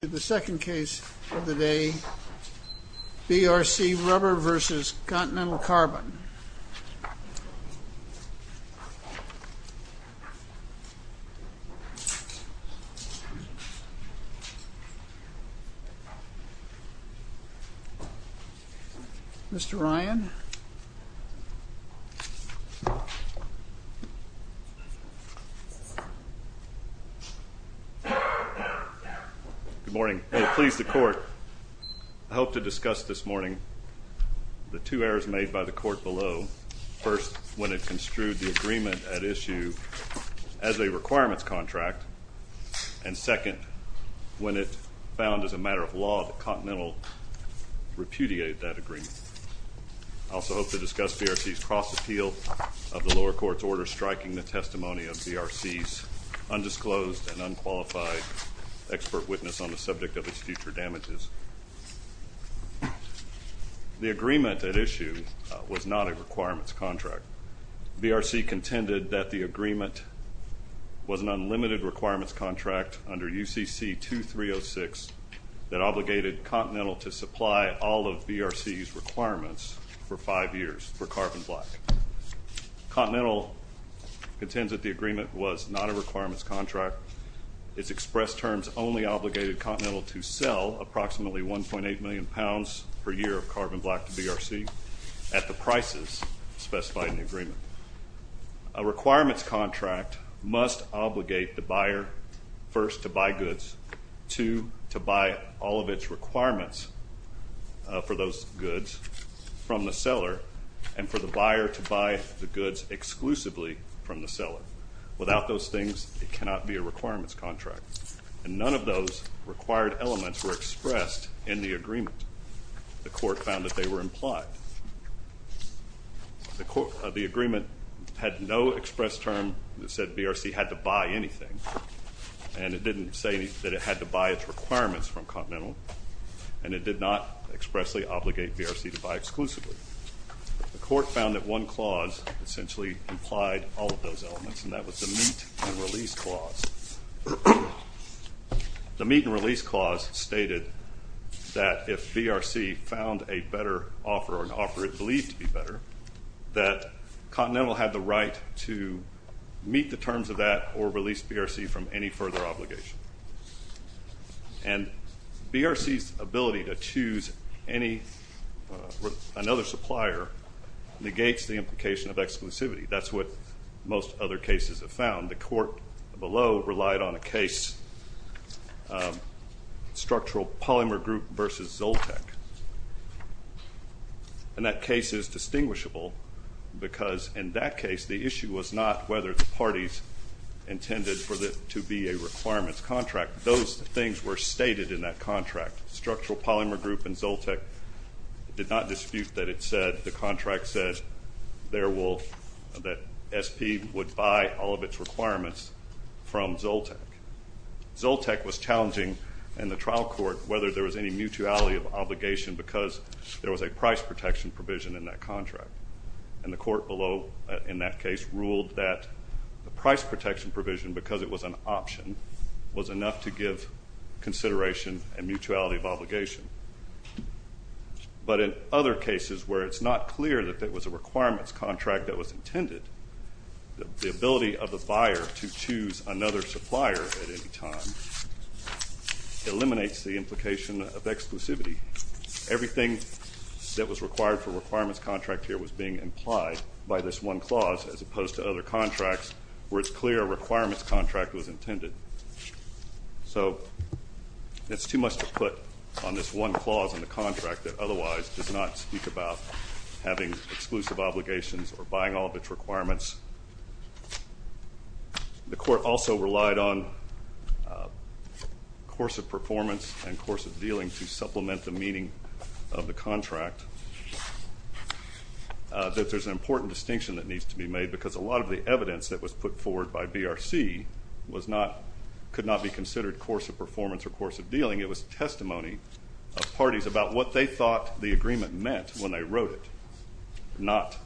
The second case of the day, BRC Rubber v. Continental Carbon. Mr. Ryan. Good morning. Please, the Court, I hope to discuss this morning the two errors made by the Court below. First, when it construed the agreement at issue as a requirements contract, and second, when it found as a matter of law that Continental repudiated that agreement. I also hope to discuss BRC's cross-appeal of the lower court's order striking the testimony of BRC's undisclosed and unqualified expert witness on the subject of its future damages. The agreement at issue was not a requirements contract. BRC contended that the agreement was an unlimited requirements contract under UCC 2306 that obligated Continental to supply all of BRC's requirements for five years for carbon black. Continental contends that the agreement was not a requirements contract. Its express terms only obligated Continental to sell approximately 1.8 million pounds per year of carbon black to BRC at the prices specified in the agreement. A requirements contract must obligate the buyer, first, to buy goods, two, to buy all of its requirements for those goods from the seller, and for the buyer to buy the goods exclusively from the seller. Without those things, it cannot be a requirements contract. And none of those required elements were expressed in the agreement. The Court found that they were implied. The agreement had no express term that said BRC had to buy anything, and it didn't say that it had to buy its requirements from Continental, and it did not expressly obligate BRC to buy exclusively. The Court found that one clause essentially implied all of those elements, and that was the meet and release clause. The meet and release clause stated that if BRC found a better offer or an offer it believed to be better, that Continental had the right to meet the terms of that or release BRC from any further obligation. And BRC's ability to choose another supplier negates the implication of exclusivity. That's what most other cases have found. The Court below relied on a case, Structural Polymer Group v. Zoltech, and that case is distinguishable because in that case, the issue was not whether the parties intended for it to be a requirements contract. Those things were stated in that contract. Structural Polymer Group and Zoltech did not dispute that it said, the contract said that SP would buy all of its requirements from Zoltech. Zoltech was challenging in the trial court whether there was any mutuality of obligation because there was a price protection provision in that contract, and the Court below in that case ruled that the price protection provision, because it was an option, was enough to give consideration and mutuality of obligation. But in other cases where it's not clear that it was a requirements contract that was intended, the ability of the buyer to choose another supplier at any time eliminates the implication of exclusivity. Everything that was required for a requirements contract here was being implied by this one clause as opposed to other contracts where it's clear a requirements contract was intended. So it's too much to put on this one clause in the contract that otherwise does not speak about having exclusive obligations or buying all of its requirements. The Court also relied on course of performance and course of dealing to supplement the meaning of the contract, that there's an important distinction that needs to be made because a lot of the evidence that was put forward by BRC could not be considered course of performance or course of dealing. It was testimony of parties about what they thought the agreement meant when they wrote it, not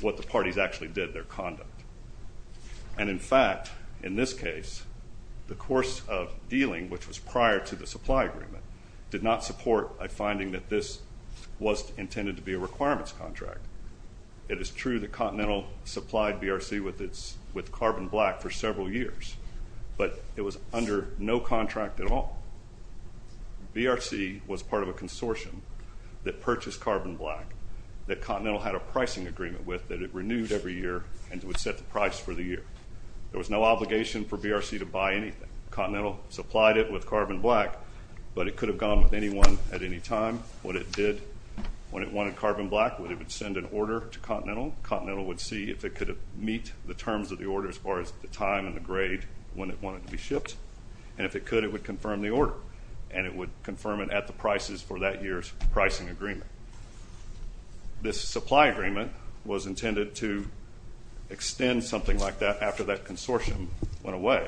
what the parties actually did, their conduct. And in fact, in this case, the course of dealing, which was prior to the supply agreement, did not support a finding that this was intended to be a requirements contract. It is true that Continental supplied BRC with carbon black for several years, but it was under no contract at all. BRC was part of a consortium that purchased carbon black that Continental had a pricing agreement with that it renewed every year and would set the price for the year. There was no obligation for BRC to buy anything. Continental supplied it with carbon black, but it could have gone with anyone at any time. What it did when it wanted carbon black was it would send an order to Continental. Continental would see if it could meet the terms of the order as far as the time and the grade when it wanted to be shipped, and if it could, it would confirm the order, and it would confirm it at the prices for that year's pricing agreement. This supply agreement was intended to extend something like that after that consortium went away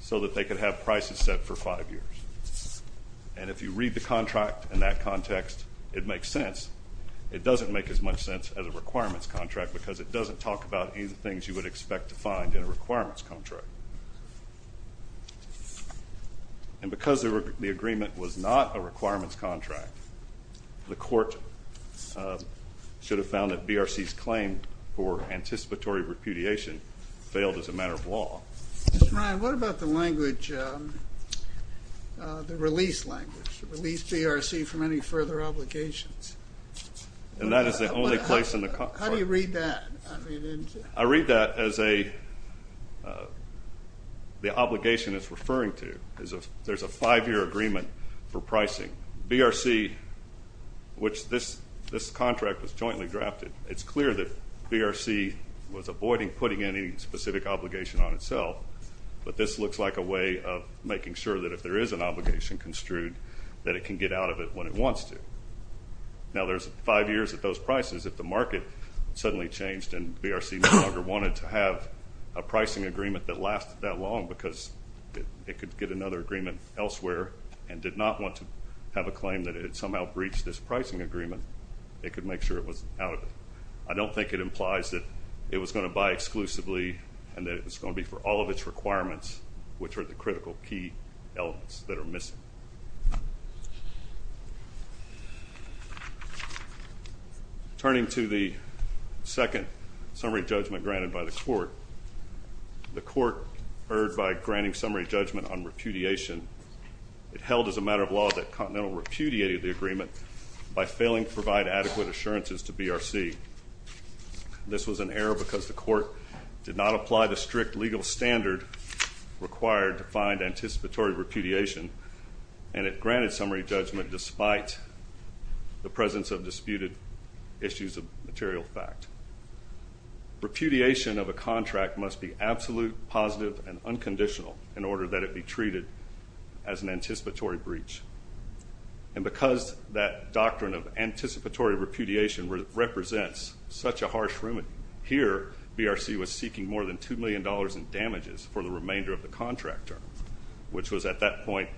so that they could have prices set for five years. And if you read the contract in that context, it makes sense. It doesn't make as much sense as a requirements contract because it doesn't talk about any of the things you would expect to find in a requirements contract. And because the agreement was not a requirements contract, the court should have found that BRC's claim for anticipatory repudiation failed as a matter of law. Mr. Ryan, what about the language, the release language, release BRC from any further obligations? And that is the only place in the contract. How do you read that? I read that as the obligation it's referring to. There's a five-year agreement for pricing. BRC, which this contract was jointly drafted, it's clear that BRC was avoiding putting any specific obligation on itself, but this looks like a way of making sure that if there is an obligation construed that it can get out of it when it wants to. Now, there's five years at those prices. If the market suddenly changed and BRC no longer wanted to have a pricing agreement that lasted that long because it could get another agreement elsewhere and did not want to have a claim that it had somehow breached this pricing agreement, it could make sure it was out of it. I don't think it implies that it was going to buy exclusively and that it was going to be for all of its requirements, which are the critical key elements that are missing. Turning to the second summary judgment granted by the court, the court erred by granting summary judgment on repudiation. It held as a matter of law that Continental repudiated the agreement by failing to provide adequate assurances to BRC. This was an error because the court did not apply the strict legal standard required to find anticipatory repudiation, and it granted summary judgment despite the presence of disputed issues of material fact. Repudiation of a contract must be absolute, positive, and unconditional in order that it be treated as an anticipatory breach. And because that doctrine of anticipatory repudiation represents such a harsh room here, BRC was seeking more than $2 million in damages for the remainder of the contract term, which was at that point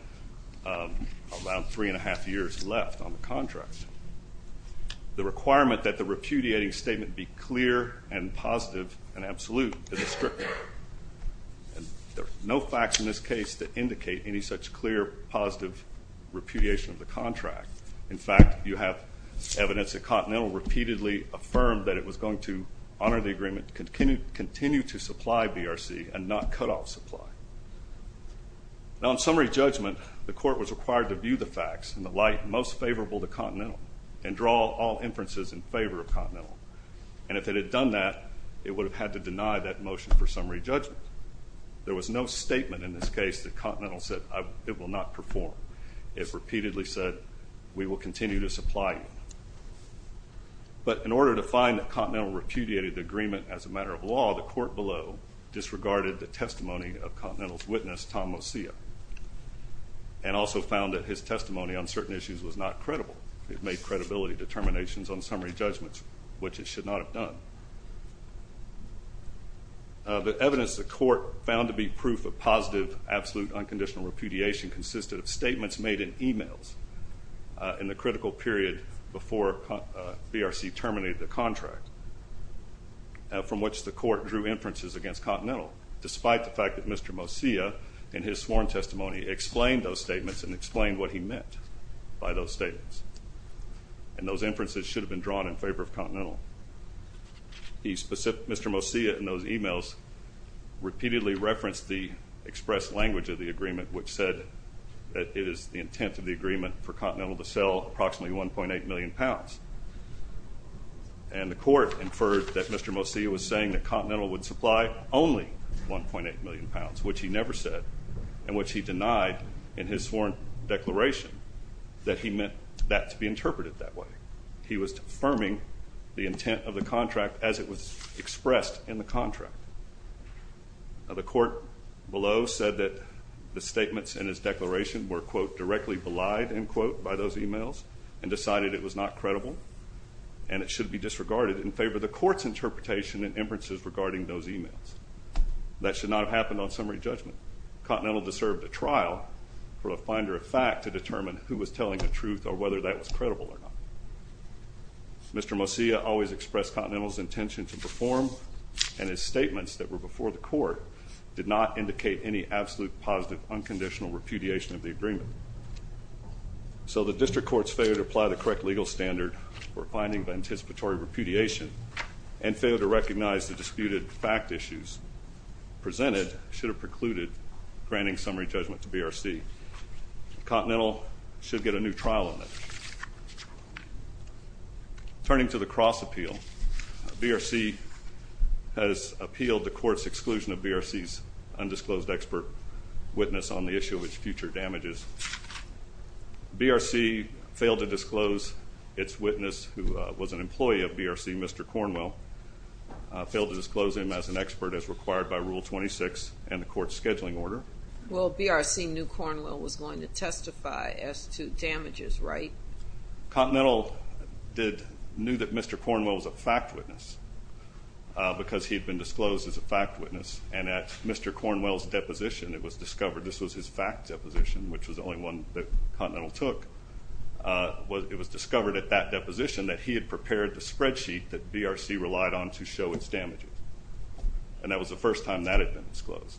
around three-and-a-half years left on the contract. The requirement that the repudiating statement be clear and positive and absolute is strict. There are no facts in this case that indicate any such clear, positive repudiation of the contract. In fact, you have evidence that Continental repeatedly affirmed that it was going to honor the agreement, continue to supply BRC, and not cut off supply. Now, in summary judgment, the court was required to view the facts in the light most favorable to Continental and if it had done that, it would have had to deny that motion for summary judgment. There was no statement in this case that Continental said it will not perform. It repeatedly said we will continue to supply you. But in order to find that Continental repudiated the agreement as a matter of law, the court below disregarded the testimony of Continental's witness, Tom Mosia, and also found that his testimony on certain issues was not credible. It made credibility determinations on summary judgments, which it should not have done. The evidence the court found to be proof of positive, absolute, unconditional repudiation consisted of statements made in e-mails in the critical period before BRC terminated the contract, from which the court drew inferences against Continental, despite the fact that Mr. Mosia, in his sworn testimony, explained those statements and explained what he meant by those statements. And those inferences should have been drawn in favor of Continental. Mr. Mosia, in those e-mails, repeatedly referenced the express language of the agreement, which said that it is the intent of the agreement for Continental to sell approximately 1.8 million pounds. And the court inferred that Mr. Mosia was saying that Continental would supply only 1.8 million pounds, which he never said and which he denied in his sworn declaration that he meant that to be interpreted that way. He was affirming the intent of the contract as it was expressed in the contract. The court below said that the statements in his declaration were, quote, directly belied, end quote, by those e-mails and decided it was not credible and it should be disregarded in favor of the court's interpretation and inferences regarding those e-mails. That should not have happened on summary judgment. Continental deserved a trial for a finder of fact to determine who was telling the truth or whether that was credible or not. Mr. Mosia always expressed Continental's intention to perform, and his statements that were before the court did not indicate any absolute, positive, unconditional repudiation of the agreement. So the district courts failed to apply the correct legal standard for finding the anticipatory repudiation and failed to recognize the disputed fact issues presented should have precluded granting summary judgment to BRC. Continental should get a new trial on that. Turning to the cross appeal, BRC has appealed the court's exclusion of BRC's undisclosed expert witness on the issue of its future damages. BRC failed to disclose its witness, who was an employee of BRC, Mr. Cornwell, failed to disclose him as an expert as required by Rule 26 and the court's scheduling order. Well, BRC knew Cornwell was going to testify as to damages, right? Continental knew that Mr. Cornwell was a fact witness because he had been disclosed as a fact witness, and at Mr. Cornwell's deposition, it was discovered this was his fact deposition, which was the only one that Continental took. It was discovered at that deposition that he had prepared the spreadsheet that BRC relied on to show its damages, and that was the first time that had been disclosed.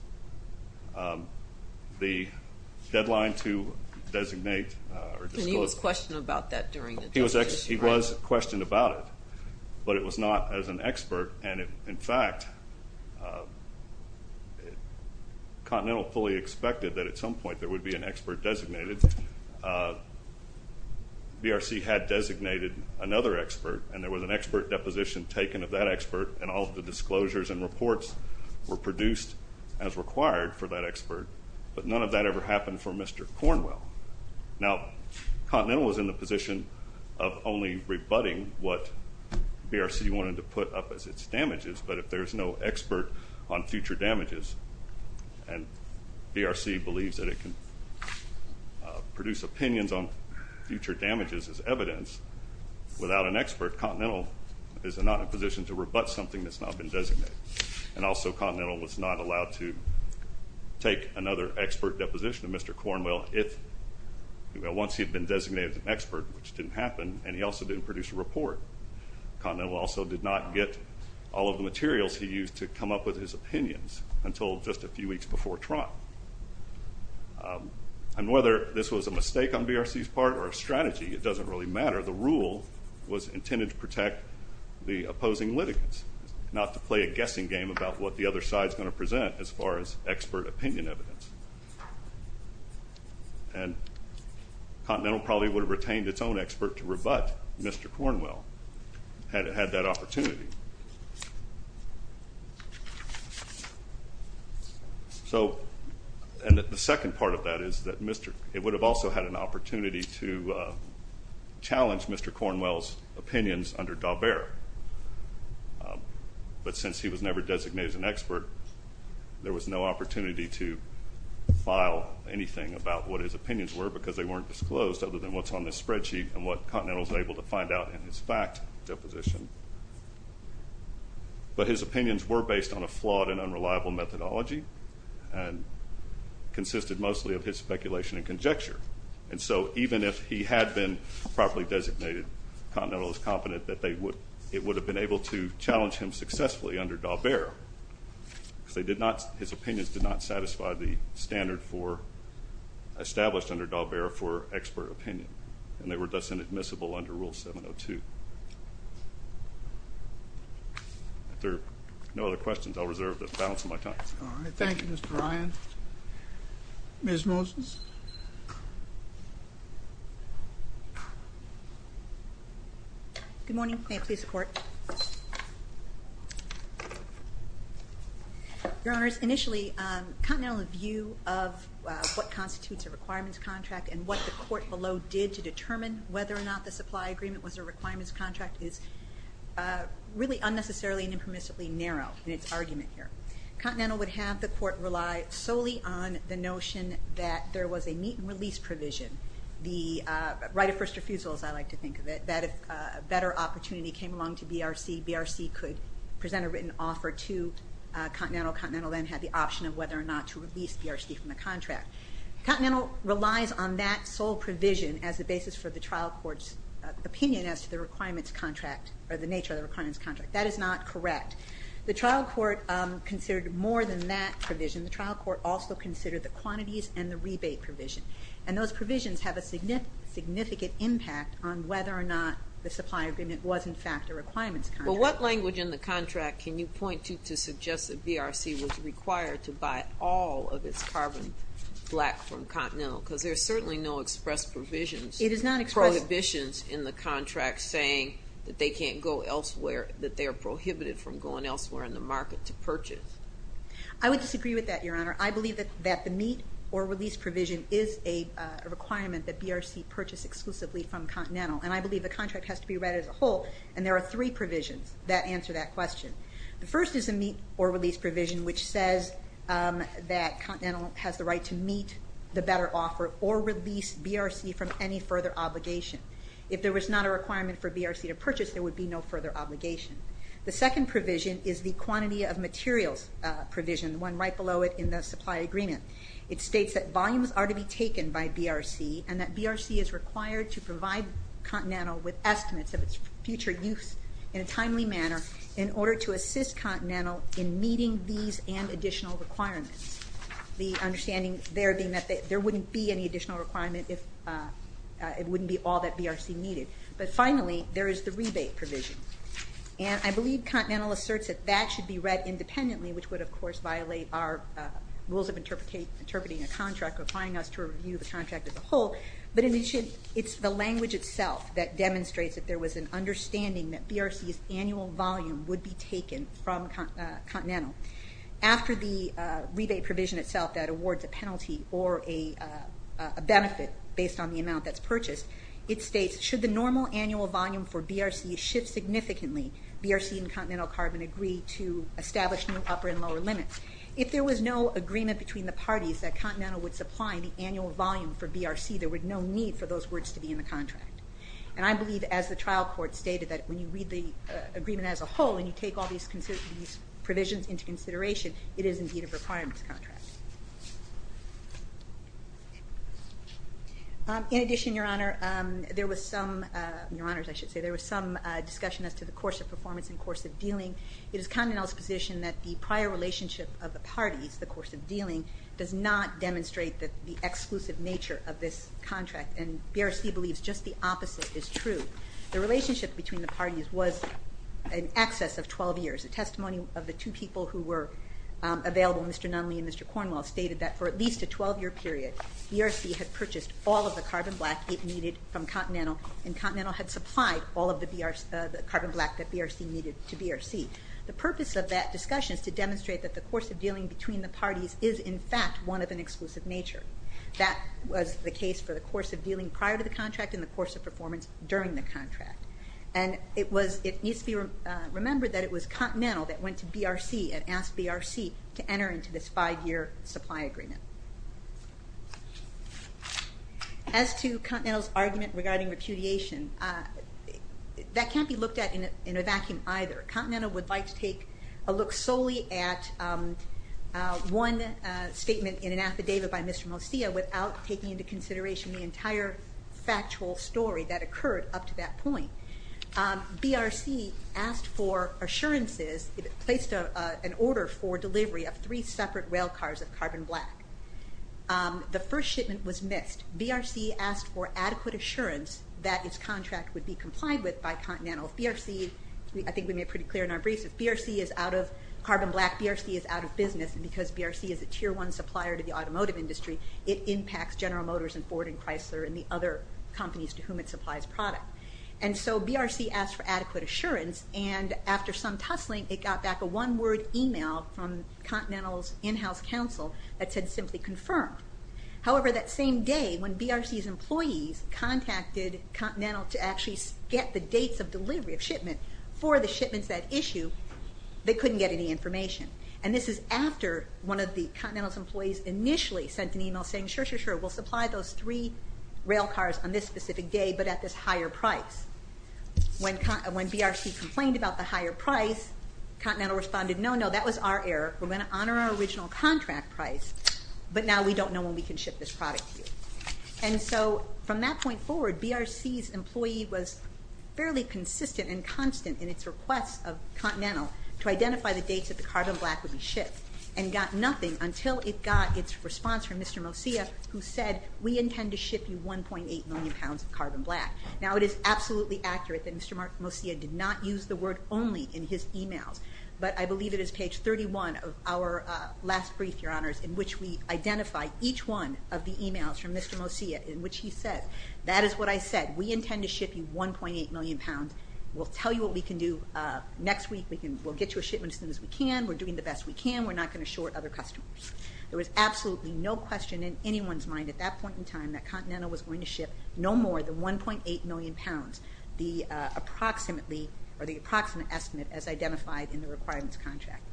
The deadline to designate or disclose. And he was questioned about that during the decision, right? But it was not as an expert, and in fact, Continental fully expected that at some point there would be an expert designated. BRC had designated another expert, and there was an expert deposition taken of that expert, and all of the disclosures and reports were produced as required for that expert, but none of that ever happened for Mr. Cornwell. Now, Continental was in the position of only rebutting what BRC wanted to put up as its damages, but if there's no expert on future damages, and BRC believes that it can produce opinions on future damages as evidence, without an expert, Continental is not in a position to rebut something that's not been designated. And also, Continental was not allowed to take another expert deposition of Mr. Cornwell if, once he had been designated as an expert, which didn't happen, and he also didn't produce a report. Continental also did not get all of the materials he used to come up with his opinions until just a few weeks before trial. And whether this was a mistake on BRC's part or a strategy, it doesn't really matter. The rule was intended to protect the opposing litigants, not to play a guessing game about what the other side is going to present as far as expert opinion evidence. And Continental probably would have retained its own expert to rebut Mr. Cornwell had it had that opportunity. So, and the second part of that is that it would have also had an opportunity to challenge Mr. Cornwell's opinions under Daubert. But since he was never designated as an expert, there was no opportunity to file anything about what his opinions were because they weren't disclosed other than what's on this spreadsheet and what Continental was able to find out in his fact deposition. But his opinions were based on a flawed and unreliable methodology and consisted mostly of his speculation and conjecture. And so even if he had been properly designated, Continental is confident that it would have been able to challenge him successfully under Daubert. Because his opinions did not satisfy the standard established under Daubert for expert opinion. And they were thus inadmissible under Rule 702. If there are no other questions, I'll reserve the balance of my time. All right. Thank you, Mr. Ryan. Ms. Moses? Good morning. May I please support? Your Honors, initially, Continental's view of what constitutes a requirements contract and what the court below did to determine whether or not the supply agreement was a requirements contract is really unnecessarily and impermissibly narrow in its argument here. Continental would have the court rely solely on the notion that there was a meet and release provision, the right of first refusal as I like to think of it, that if a better opportunity came along to BRC, BRC could present a written offer to Continental. Continental then had the option of whether or not to release BRC from the contract. Continental relies on that sole provision as the basis for the trial court's opinion as to the requirements contract or the nature of the requirements contract. That is not correct. The trial court considered more than that provision. The trial court also considered the quantities and the rebate provision. And those provisions have a significant impact on whether or not the supply agreement was in fact a requirements contract. But what language in the contract can you point to to suggest that BRC was required to buy all of its carbon black from Continental? Because there's certainly no express provisions. It is not express. Prohibitions in the contract saying that they can't go elsewhere, that they are prohibited from going elsewhere in the market to purchase. I would disagree with that, Your Honor. I believe that the meet or release provision is a requirement that BRC purchase exclusively from Continental. And I believe the contract has to be read as a whole. And there are three provisions that answer that question. The first is a meet or release provision which says that Continental has the right to meet the better offer or release BRC from any further obligation. If there was not a requirement for BRC to purchase, there would be no further obligation. The second provision is the quantity of materials provision, the one right below it in the supply agreement. It states that volumes are to be taken by BRC and that BRC is required to provide Continental with estimates of its future use in a timely manner in order to assist Continental in meeting these and additional requirements. The understanding there being that there wouldn't be any additional requirement if it wouldn't be all that BRC needed. But finally, there is the rebate provision. And I believe Continental asserts that that should be read independently which would, of course, violate our rules of interpreting a contract or applying us to review the contract as a whole. But it's the language itself that demonstrates that there was an understanding that BRC's annual volume would be taken from Continental. After the rebate provision itself that awards a penalty or a benefit based on the amount that's purchased, it states, should the normal annual volume for BRC shift significantly, BRC and Continental Carbon agree to establish new upper and lower limits. If there was no agreement between the parties that Continental would supply the annual volume for BRC, there would be no need for those words to be in the contract. And I believe, as the trial court stated, that when you read the agreement as a whole and you take all these provisions into consideration, it is indeed a requirements contract. In addition, Your Honor, there was some discussion as to the course of performance and course of dealing. It is Continental's position that the prior relationship of the parties, the course of dealing, does not demonstrate the exclusive nature of this contract. And BRC believes just the opposite is true. The relationship between the parties was in excess of 12 years. A testimony of the two people who were available, Mr. Nunley and Mr. Cornwell, stated that for at least a 12-year period, BRC had purchased all of the carbon black it needed from Continental and Continental had supplied all of the carbon black that BRC needed to BRC. The purpose of that discussion is to demonstrate that the course of dealing between the parties is, in fact, one of an exclusive nature. That was the case for the course of dealing prior to the contract and the course of performance during the contract. And it needs to be remembered that it was Continental that went to BRC and asked BRC to enter into this five-year supply agreement. As to Continental's argument regarding repudiation, that can't be looked at in a vacuum either. Continental would like to take a look solely at one statement in an affidavit by Mr. Mosia without taking into consideration the entire factual story that occurred up to that point. BRC asked for assurances, placed an order for delivery of three separate rail cars of carbon black. The first shipment was missed. BRC asked for adequate assurance that its contract would be complied with by Continental. If BRC, I think we made pretty clear in our briefs, if BRC is out of carbon black, BRC is out of business. And because BRC is a tier one supplier to the automotive industry, it impacts General Motors and Ford and Chrysler and the other companies to whom it supplies product. And so BRC asked for adequate assurance, and after some tussling, it got back a one-word email from Continental's in-house counsel that said simply confirmed. However, that same day, when BRC's employees contacted Continental to actually get the dates of delivery of shipment for the shipments that issue, they couldn't get any information. And this is after one of the Continental's employees initially sent an email saying, sure, sure, sure, we'll supply those three rail cars on this specific day, but at this higher price. When BRC complained about the higher price, Continental responded, no, no, that was our error. We're going to honor our original contract price, but now we don't know when we can ship this product to you. And so from that point forward, BRC's employee was fairly consistent and constant in its request of Continental to identify the dates that the carbon black would be shipped, and got nothing until it got its response from Mr. Mosia, who said, we intend to ship you 1.8 million pounds of carbon black. Now, it is absolutely accurate that Mr. Mosia did not use the word only in his emails, but I believe it is page 31 of our last brief, Your Honors, in which we identify each one of the emails from Mr. Mosia, in which he said, that is what I said, we intend to ship you 1.8 million pounds. We'll tell you what we can do next week. We'll get you a shipment as soon as we can. We're doing the best we can. We're not going to short other customers. There was absolutely no question in anyone's mind at that point in time that Continental was going to ship no more than 1.8 million pounds, the approximate estimate as identified in the requirements contract.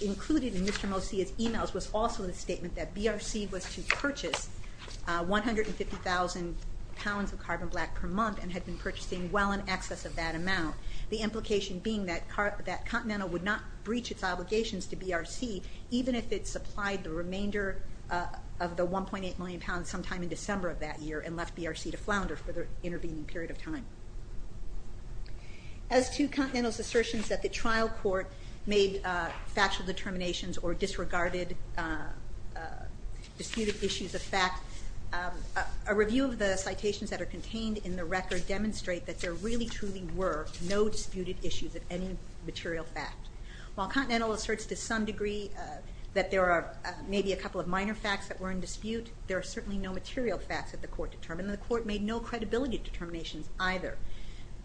Included in Mr. Mosia's emails was also the statement that BRC was to purchase 150,000 pounds of carbon black per month and had been purchasing well in excess of that amount, the implication being that Continental would not breach its obligations to BRC, even if it supplied the remainder of the 1.8 million pounds sometime in December of that year and left BRC to flounder for the intervening period of time. As to Continental's assertions that the trial court made factual determinations or disregarded disputed issues of fact, a review of the citations that are contained in the record demonstrate that there really, truly were no disputed issues of any material fact. While Continental asserts to some degree that there are maybe a couple of minor facts that were in dispute, there are certainly no material facts that the court determined, and the court made no credibility determinations either.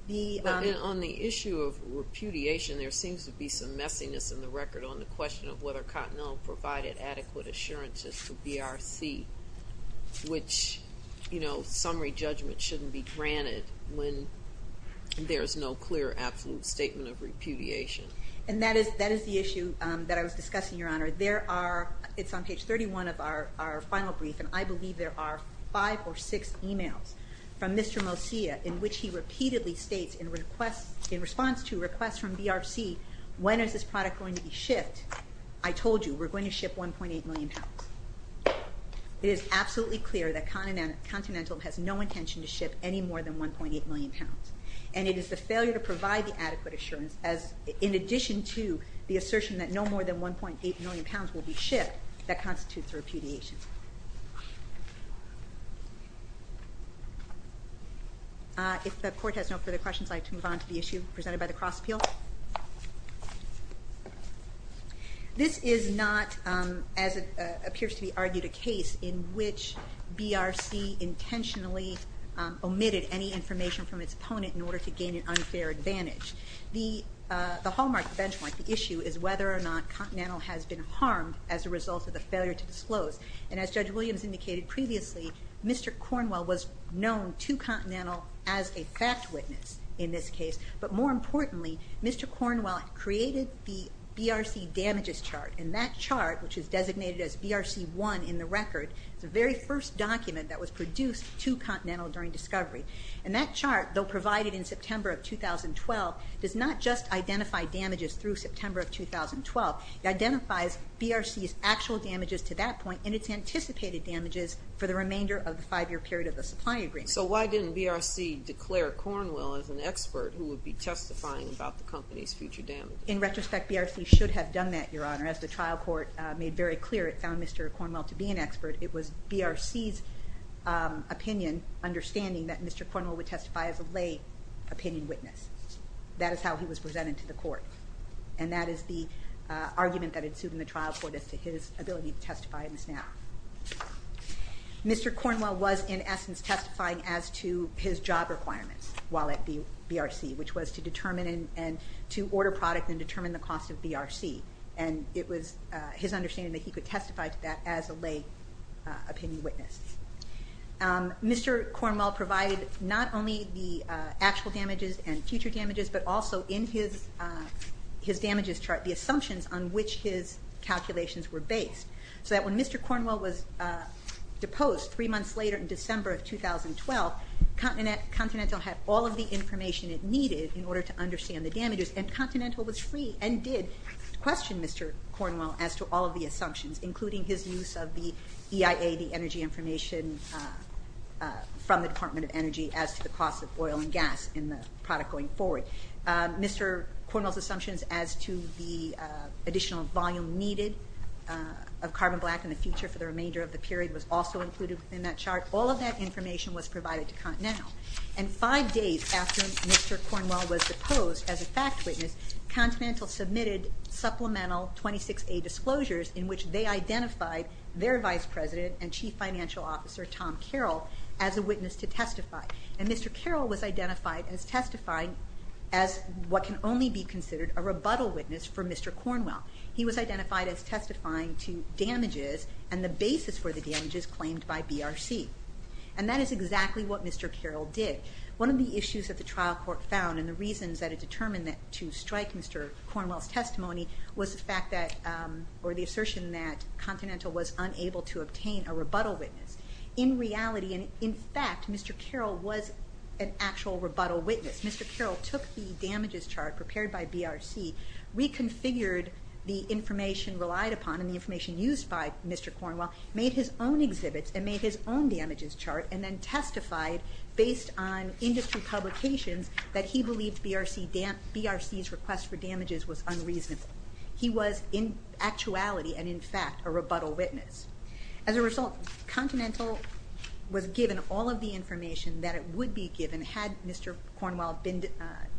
On the issue of repudiation, there seems to be some messiness in the record on the question of whether Continental provided adequate assurances to BRC, which summary judgment shouldn't be granted when there's no clear absolute statement of repudiation. And that is the issue that I was discussing, Your Honor. There are, it's on page 31 of our final brief, and I believe there are five or six emails from Mr. Mosiah in which he repeatedly states in response to requests from BRC, when is this product going to be shipped? I told you, we're going to ship 1.8 million pounds. It is absolutely clear that Continental has no intention to ship any more than 1.8 million pounds, and it is the failure to provide the adequate assurance in addition to the assertion that no more than 1.8 million pounds will be shipped that constitutes repudiation. If the court has no further questions, I'd like to move on to the issue presented by the cross-appeal. This is not, as it appears to be argued, a case in which BRC intentionally omitted any information from its opponent in order to gain an unfair advantage. The hallmark benchmark, the issue, is whether or not Continental has been harmed as a result of the failure to disclose. And as Judge Williams indicated previously, Mr. Cornwell was known to Continental as a fact witness in this case, but more importantly, Mr. Cornwell created the BRC damages chart. And that chart, which is designated as BRC 1 in the record, is the very first document that was produced to Continental during discovery. And that chart, though provided in September of 2012, does not just identify damages through September of 2012. It identifies BRC's actual damages to that point and its anticipated damages for the remainder of the five-year period of the supply agreement. So why didn't BRC declare Cornwell as an expert who would be testifying about the company's future damages? In retrospect, BRC should have done that, Your Honor. As the trial court made very clear, it found Mr. Cornwell to be an expert. It was BRC's opinion, understanding that Mr. Cornwell would testify as a lay opinion witness. That is how he was presented to the court. And that is the argument that ensued in the trial court as to his ability to testify in this matter. Mr. Cornwell was, in essence, testifying as to his job requirements while at BRC, which was to determine and to order product and determine the cost of BRC. And it was his understanding that he could testify to that as a lay opinion witness. Mr. Cornwell provided not only the actual damages and future damages, but also in his damages chart the assumptions on which his calculations were based, so that when Mr. Cornwell was deposed three months later in December of 2012, Continental had all of the information it needed in order to understand the damages. And Continental was free and did question Mr. Cornwell as to all of the assumptions, including his use of the EIA, the energy information from the Department of Energy, as to the cost of oil and gas in the product going forward. Mr. Cornwell's assumptions as to the additional volume needed of carbon black in the future for the remainder of the period was also included in that chart. All of that information was provided to Continental. And five days after Mr. Cornwell was deposed as a fact witness, Continental submitted supplemental 26A disclosures in which they identified their vice president and chief financial officer, Tom Carroll, as a witness to testify. And Mr. Carroll was identified as testifying as what can only be considered a rebuttal witness for Mr. Cornwell. He was identified as testifying to damages and the basis for the damages claimed by BRC. And that is exactly what Mr. Carroll did. One of the issues that the trial court found and the reasons that it determined to strike Mr. Cornwell's testimony was the fact that, or the assertion that, Continental was unable to obtain a rebuttal witness. In reality, and in fact, Mr. Carroll was an actual rebuttal witness. Mr. Carroll took the damages chart prepared by BRC, reconfigured the information relied upon and the information used by Mr. Cornwell, made his own exhibits and made his own damages chart, and then testified based on industry publications that he believed BRC's request for damages was unreasonable. He was, in actuality and in fact, a rebuttal witness. As a result, Continental was given all of the information that it would be given had Mr. Cornwell been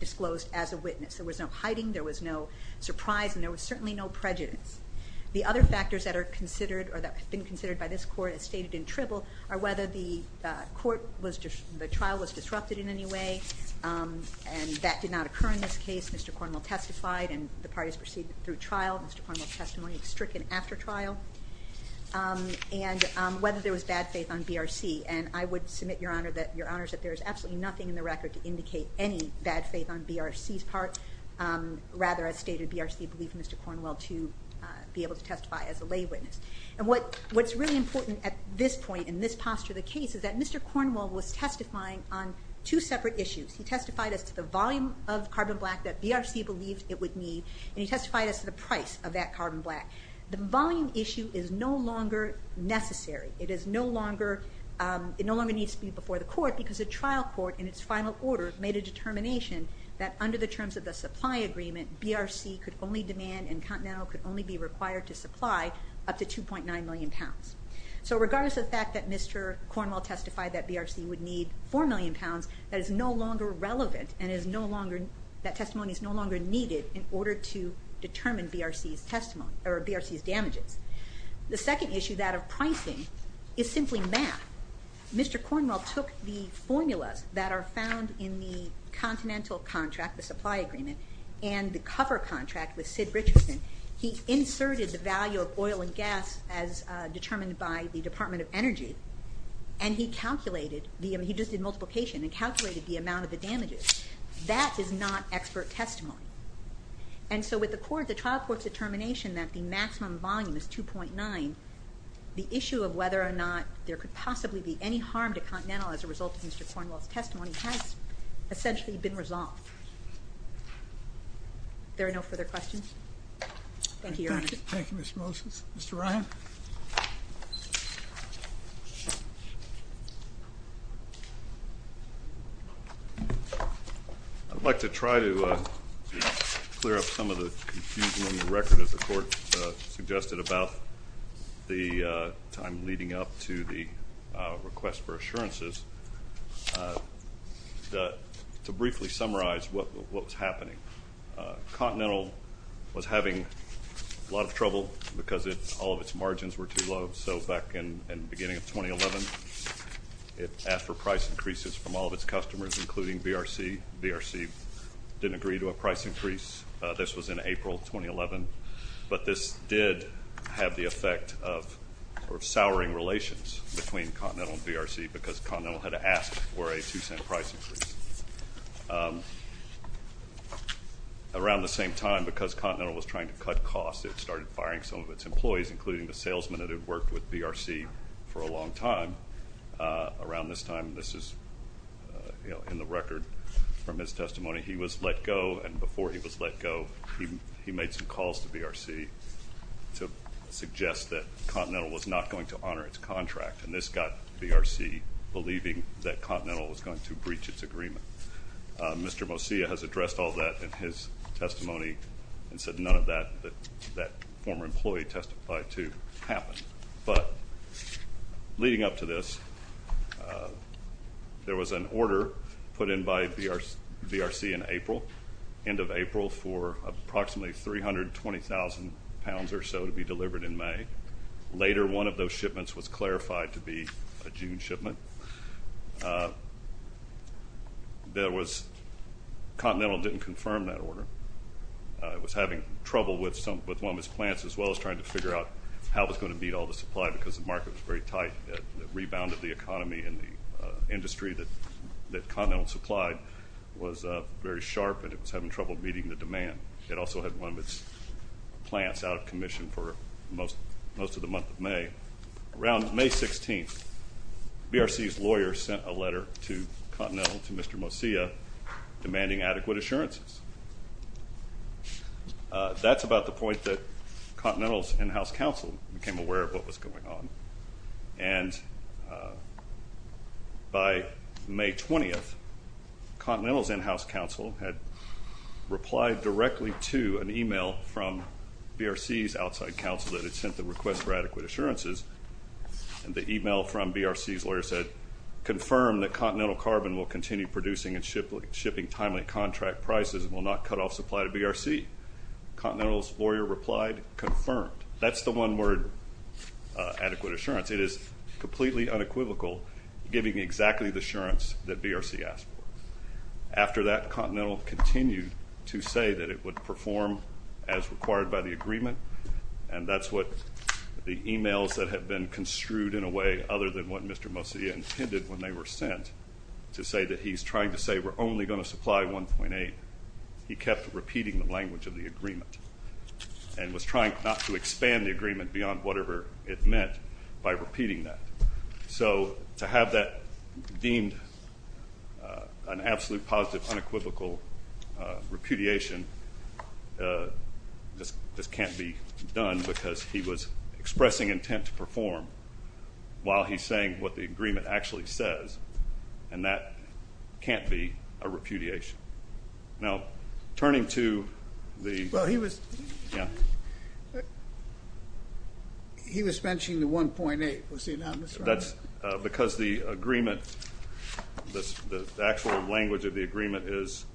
disclosed as a witness. There was no hiding. There was no surprise. And there was certainly no prejudice. The other factors that are considered or that have been considered by this court as stated in Tribble are whether the trial was disrupted in any way and that did not occur in this case. Mr. Cornwell testified and the parties proceeded through trial. Mr. Cornwell's testimony was stricken after trial. And whether there was bad faith on BRC. And I would submit, Your Honor, that there is absolutely nothing in the record to indicate any bad faith on BRC's part. Rather, as stated, BRC believed Mr. Cornwell to be able to testify as a lay witness. And what's really important at this point, in this posture of the case, is that Mr. Cornwell was testifying on two separate issues. He testified as to the volume of carbon black that BRC believed it would need and he testified as to the price of that carbon black. The volume issue is no longer necessary. It no longer needs to be before the court because the trial court, in its final order, made a determination that under the terms of the supply agreement, BRC could only demand and Continental could only be required to supply up to 2.9 million pounds. So regardless of the fact that Mr. Cornwell testified that BRC would need 4 million pounds, that is no longer relevant and that testimony is no longer needed in order to determine BRC's damages. The second issue, that of pricing, is simply math. Mr. Cornwell took the formulas that are found in the Continental contract, the supply agreement, and the cover contract with Sid Richardson. He inserted the value of oil and gas as determined by the Department of Energy and he just did multiplication and calculated the amount of the damages. That is not expert testimony. And so with the trial court's determination that the maximum volume is 2.9, the issue of whether or not there could possibly be any harm to Continental as a result of Mr. Cornwell's testimony has essentially been resolved. Are there no further questions? Thank you, Your Honor. Thank you, Ms. Moses. Mr. Ryan? I'd like to try to clear up some of the confusion on the record, as the Court suggested about the time leading up to the request for assurances, to briefly summarize what was happening. Continental was having a lot of trouble because all of its margins were too low. So back in the beginning of 2011, it asked for price increases from all of its customers, including VRC. VRC didn't agree to a price increase. This was in April 2011. But this did have the effect of souring relations between Continental and VRC because Continental had asked for a two-cent price increase. Around the same time, because Continental was trying to cut costs, it started firing some of its employees, including the salesman that had worked with VRC for a long time. Around this time, this is in the record from his testimony, he was let go. And before he was let go, he made some calls to VRC to suggest that Continental was not going to honor its contract. And this got VRC believing that Continental was going to breach its agreement. Mr. Mosia has addressed all of that in his testimony and said none of that former employee testified to happened. But leading up to this, there was an order put in by VRC in April, end of April, for approximately 320,000 pounds or so to be delivered in May. Later, one of those shipments was clarified to be a June shipment. Continental didn't confirm that order. It was having trouble with one of its plants as well as trying to figure out how it was going to meet all the supply because the market was very tight. The rebound of the economy and the industry that Continental supplied was very sharp and it was having trouble meeting the demand. It also had one of its plants out of commission for most of the month of May. Around May 16th, VRC's lawyer sent a letter to Continental, to Mr. Mosia, demanding adequate assurances. That's about the point that Continental's in-house counsel became aware of what was going on. And by May 20th, Continental's in-house counsel had replied directly to an email from VRC's outside counsel that it sent the request for adequate assurances. And the email from VRC's lawyer said, confirm that Continental Carbon will continue producing and shipping timely contract prices and will not cut off supply to VRC. Continental's lawyer replied, confirmed. That's the one word, adequate assurance. It is completely unequivocal, giving exactly the assurance that VRC asked for. After that, Continental continued to say that it would perform as required by the agreement and that's what the emails that had been construed in a way other than what Mr. Mosia intended when they were sent to say that he's trying to say we're only going to supply 1.8. He kept repeating the language of the agreement and was trying not to expand the agreement beyond whatever it meant by repeating that. So to have that deemed an absolute positive unequivocal repudiation just can't be done because he was expressing intent to perform while he's saying what the agreement actually says and that can't be a repudiation. Now, turning to the... Well, he was... Yeah. He was mentioning the 1.8, was he not? That's because the agreement, the actual language of the agreement is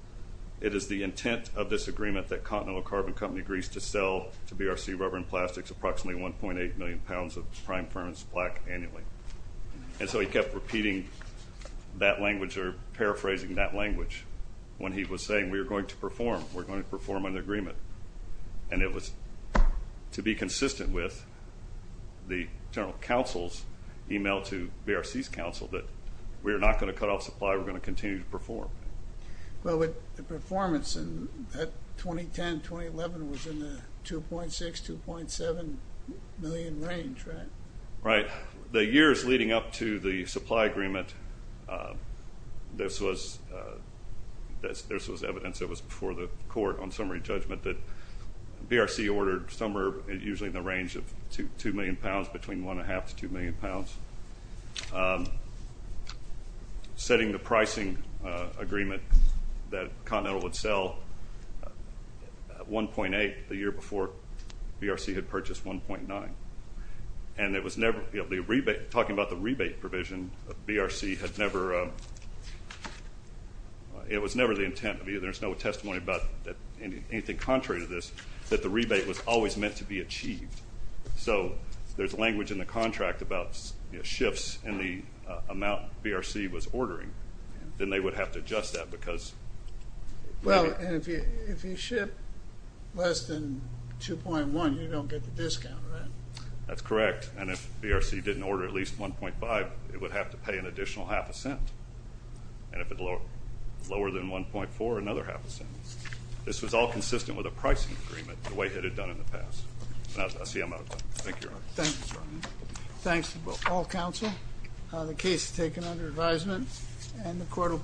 it is the intent of this agreement that Continental Carbon Company agrees to sell to VRC Rubber and Plastics approximately 1.8 million pounds of prime firm's plaque annually. And so he kept repeating that language or paraphrasing that language when he was saying we're going to perform, we're going to perform an agreement. And it was to be consistent with the general counsel's email to VRC's counsel that we're not going to cut off supply, we're going to continue to perform. Well, the performance in 2010, 2011 was in the 2.6, 2.7 million range, right? Right. The years leading up to the supply agreement, this was evidence that was before the court on summary judgment that VRC ordered somewhere usually in the range of 2 million pounds, between 1.5 to 2 million pounds, setting the pricing agreement that Continental would sell 1.8 the year before VRC had purchased 1.9. And it was never, talking about the rebate provision, VRC had never, it was never the intent of either, there's no testimony about anything contrary to this, that the rebate was always meant to be achieved. So there's language in the contract about shifts in the amount VRC was ordering. Then they would have to adjust that because... Well, and if you ship less than 2.1, you don't get the discount, right? That's correct. And if VRC didn't order at least 1.5, it would have to pay an additional half a cent. And if it's lower than 1.4, another half a cent. This was all consistent with a pricing agreement the way it had done in the past. I see I'm out of time. Thank you, Your Honor. Thanks, Brian. Thanks to all counsel. The case is taken under advisement and the court will...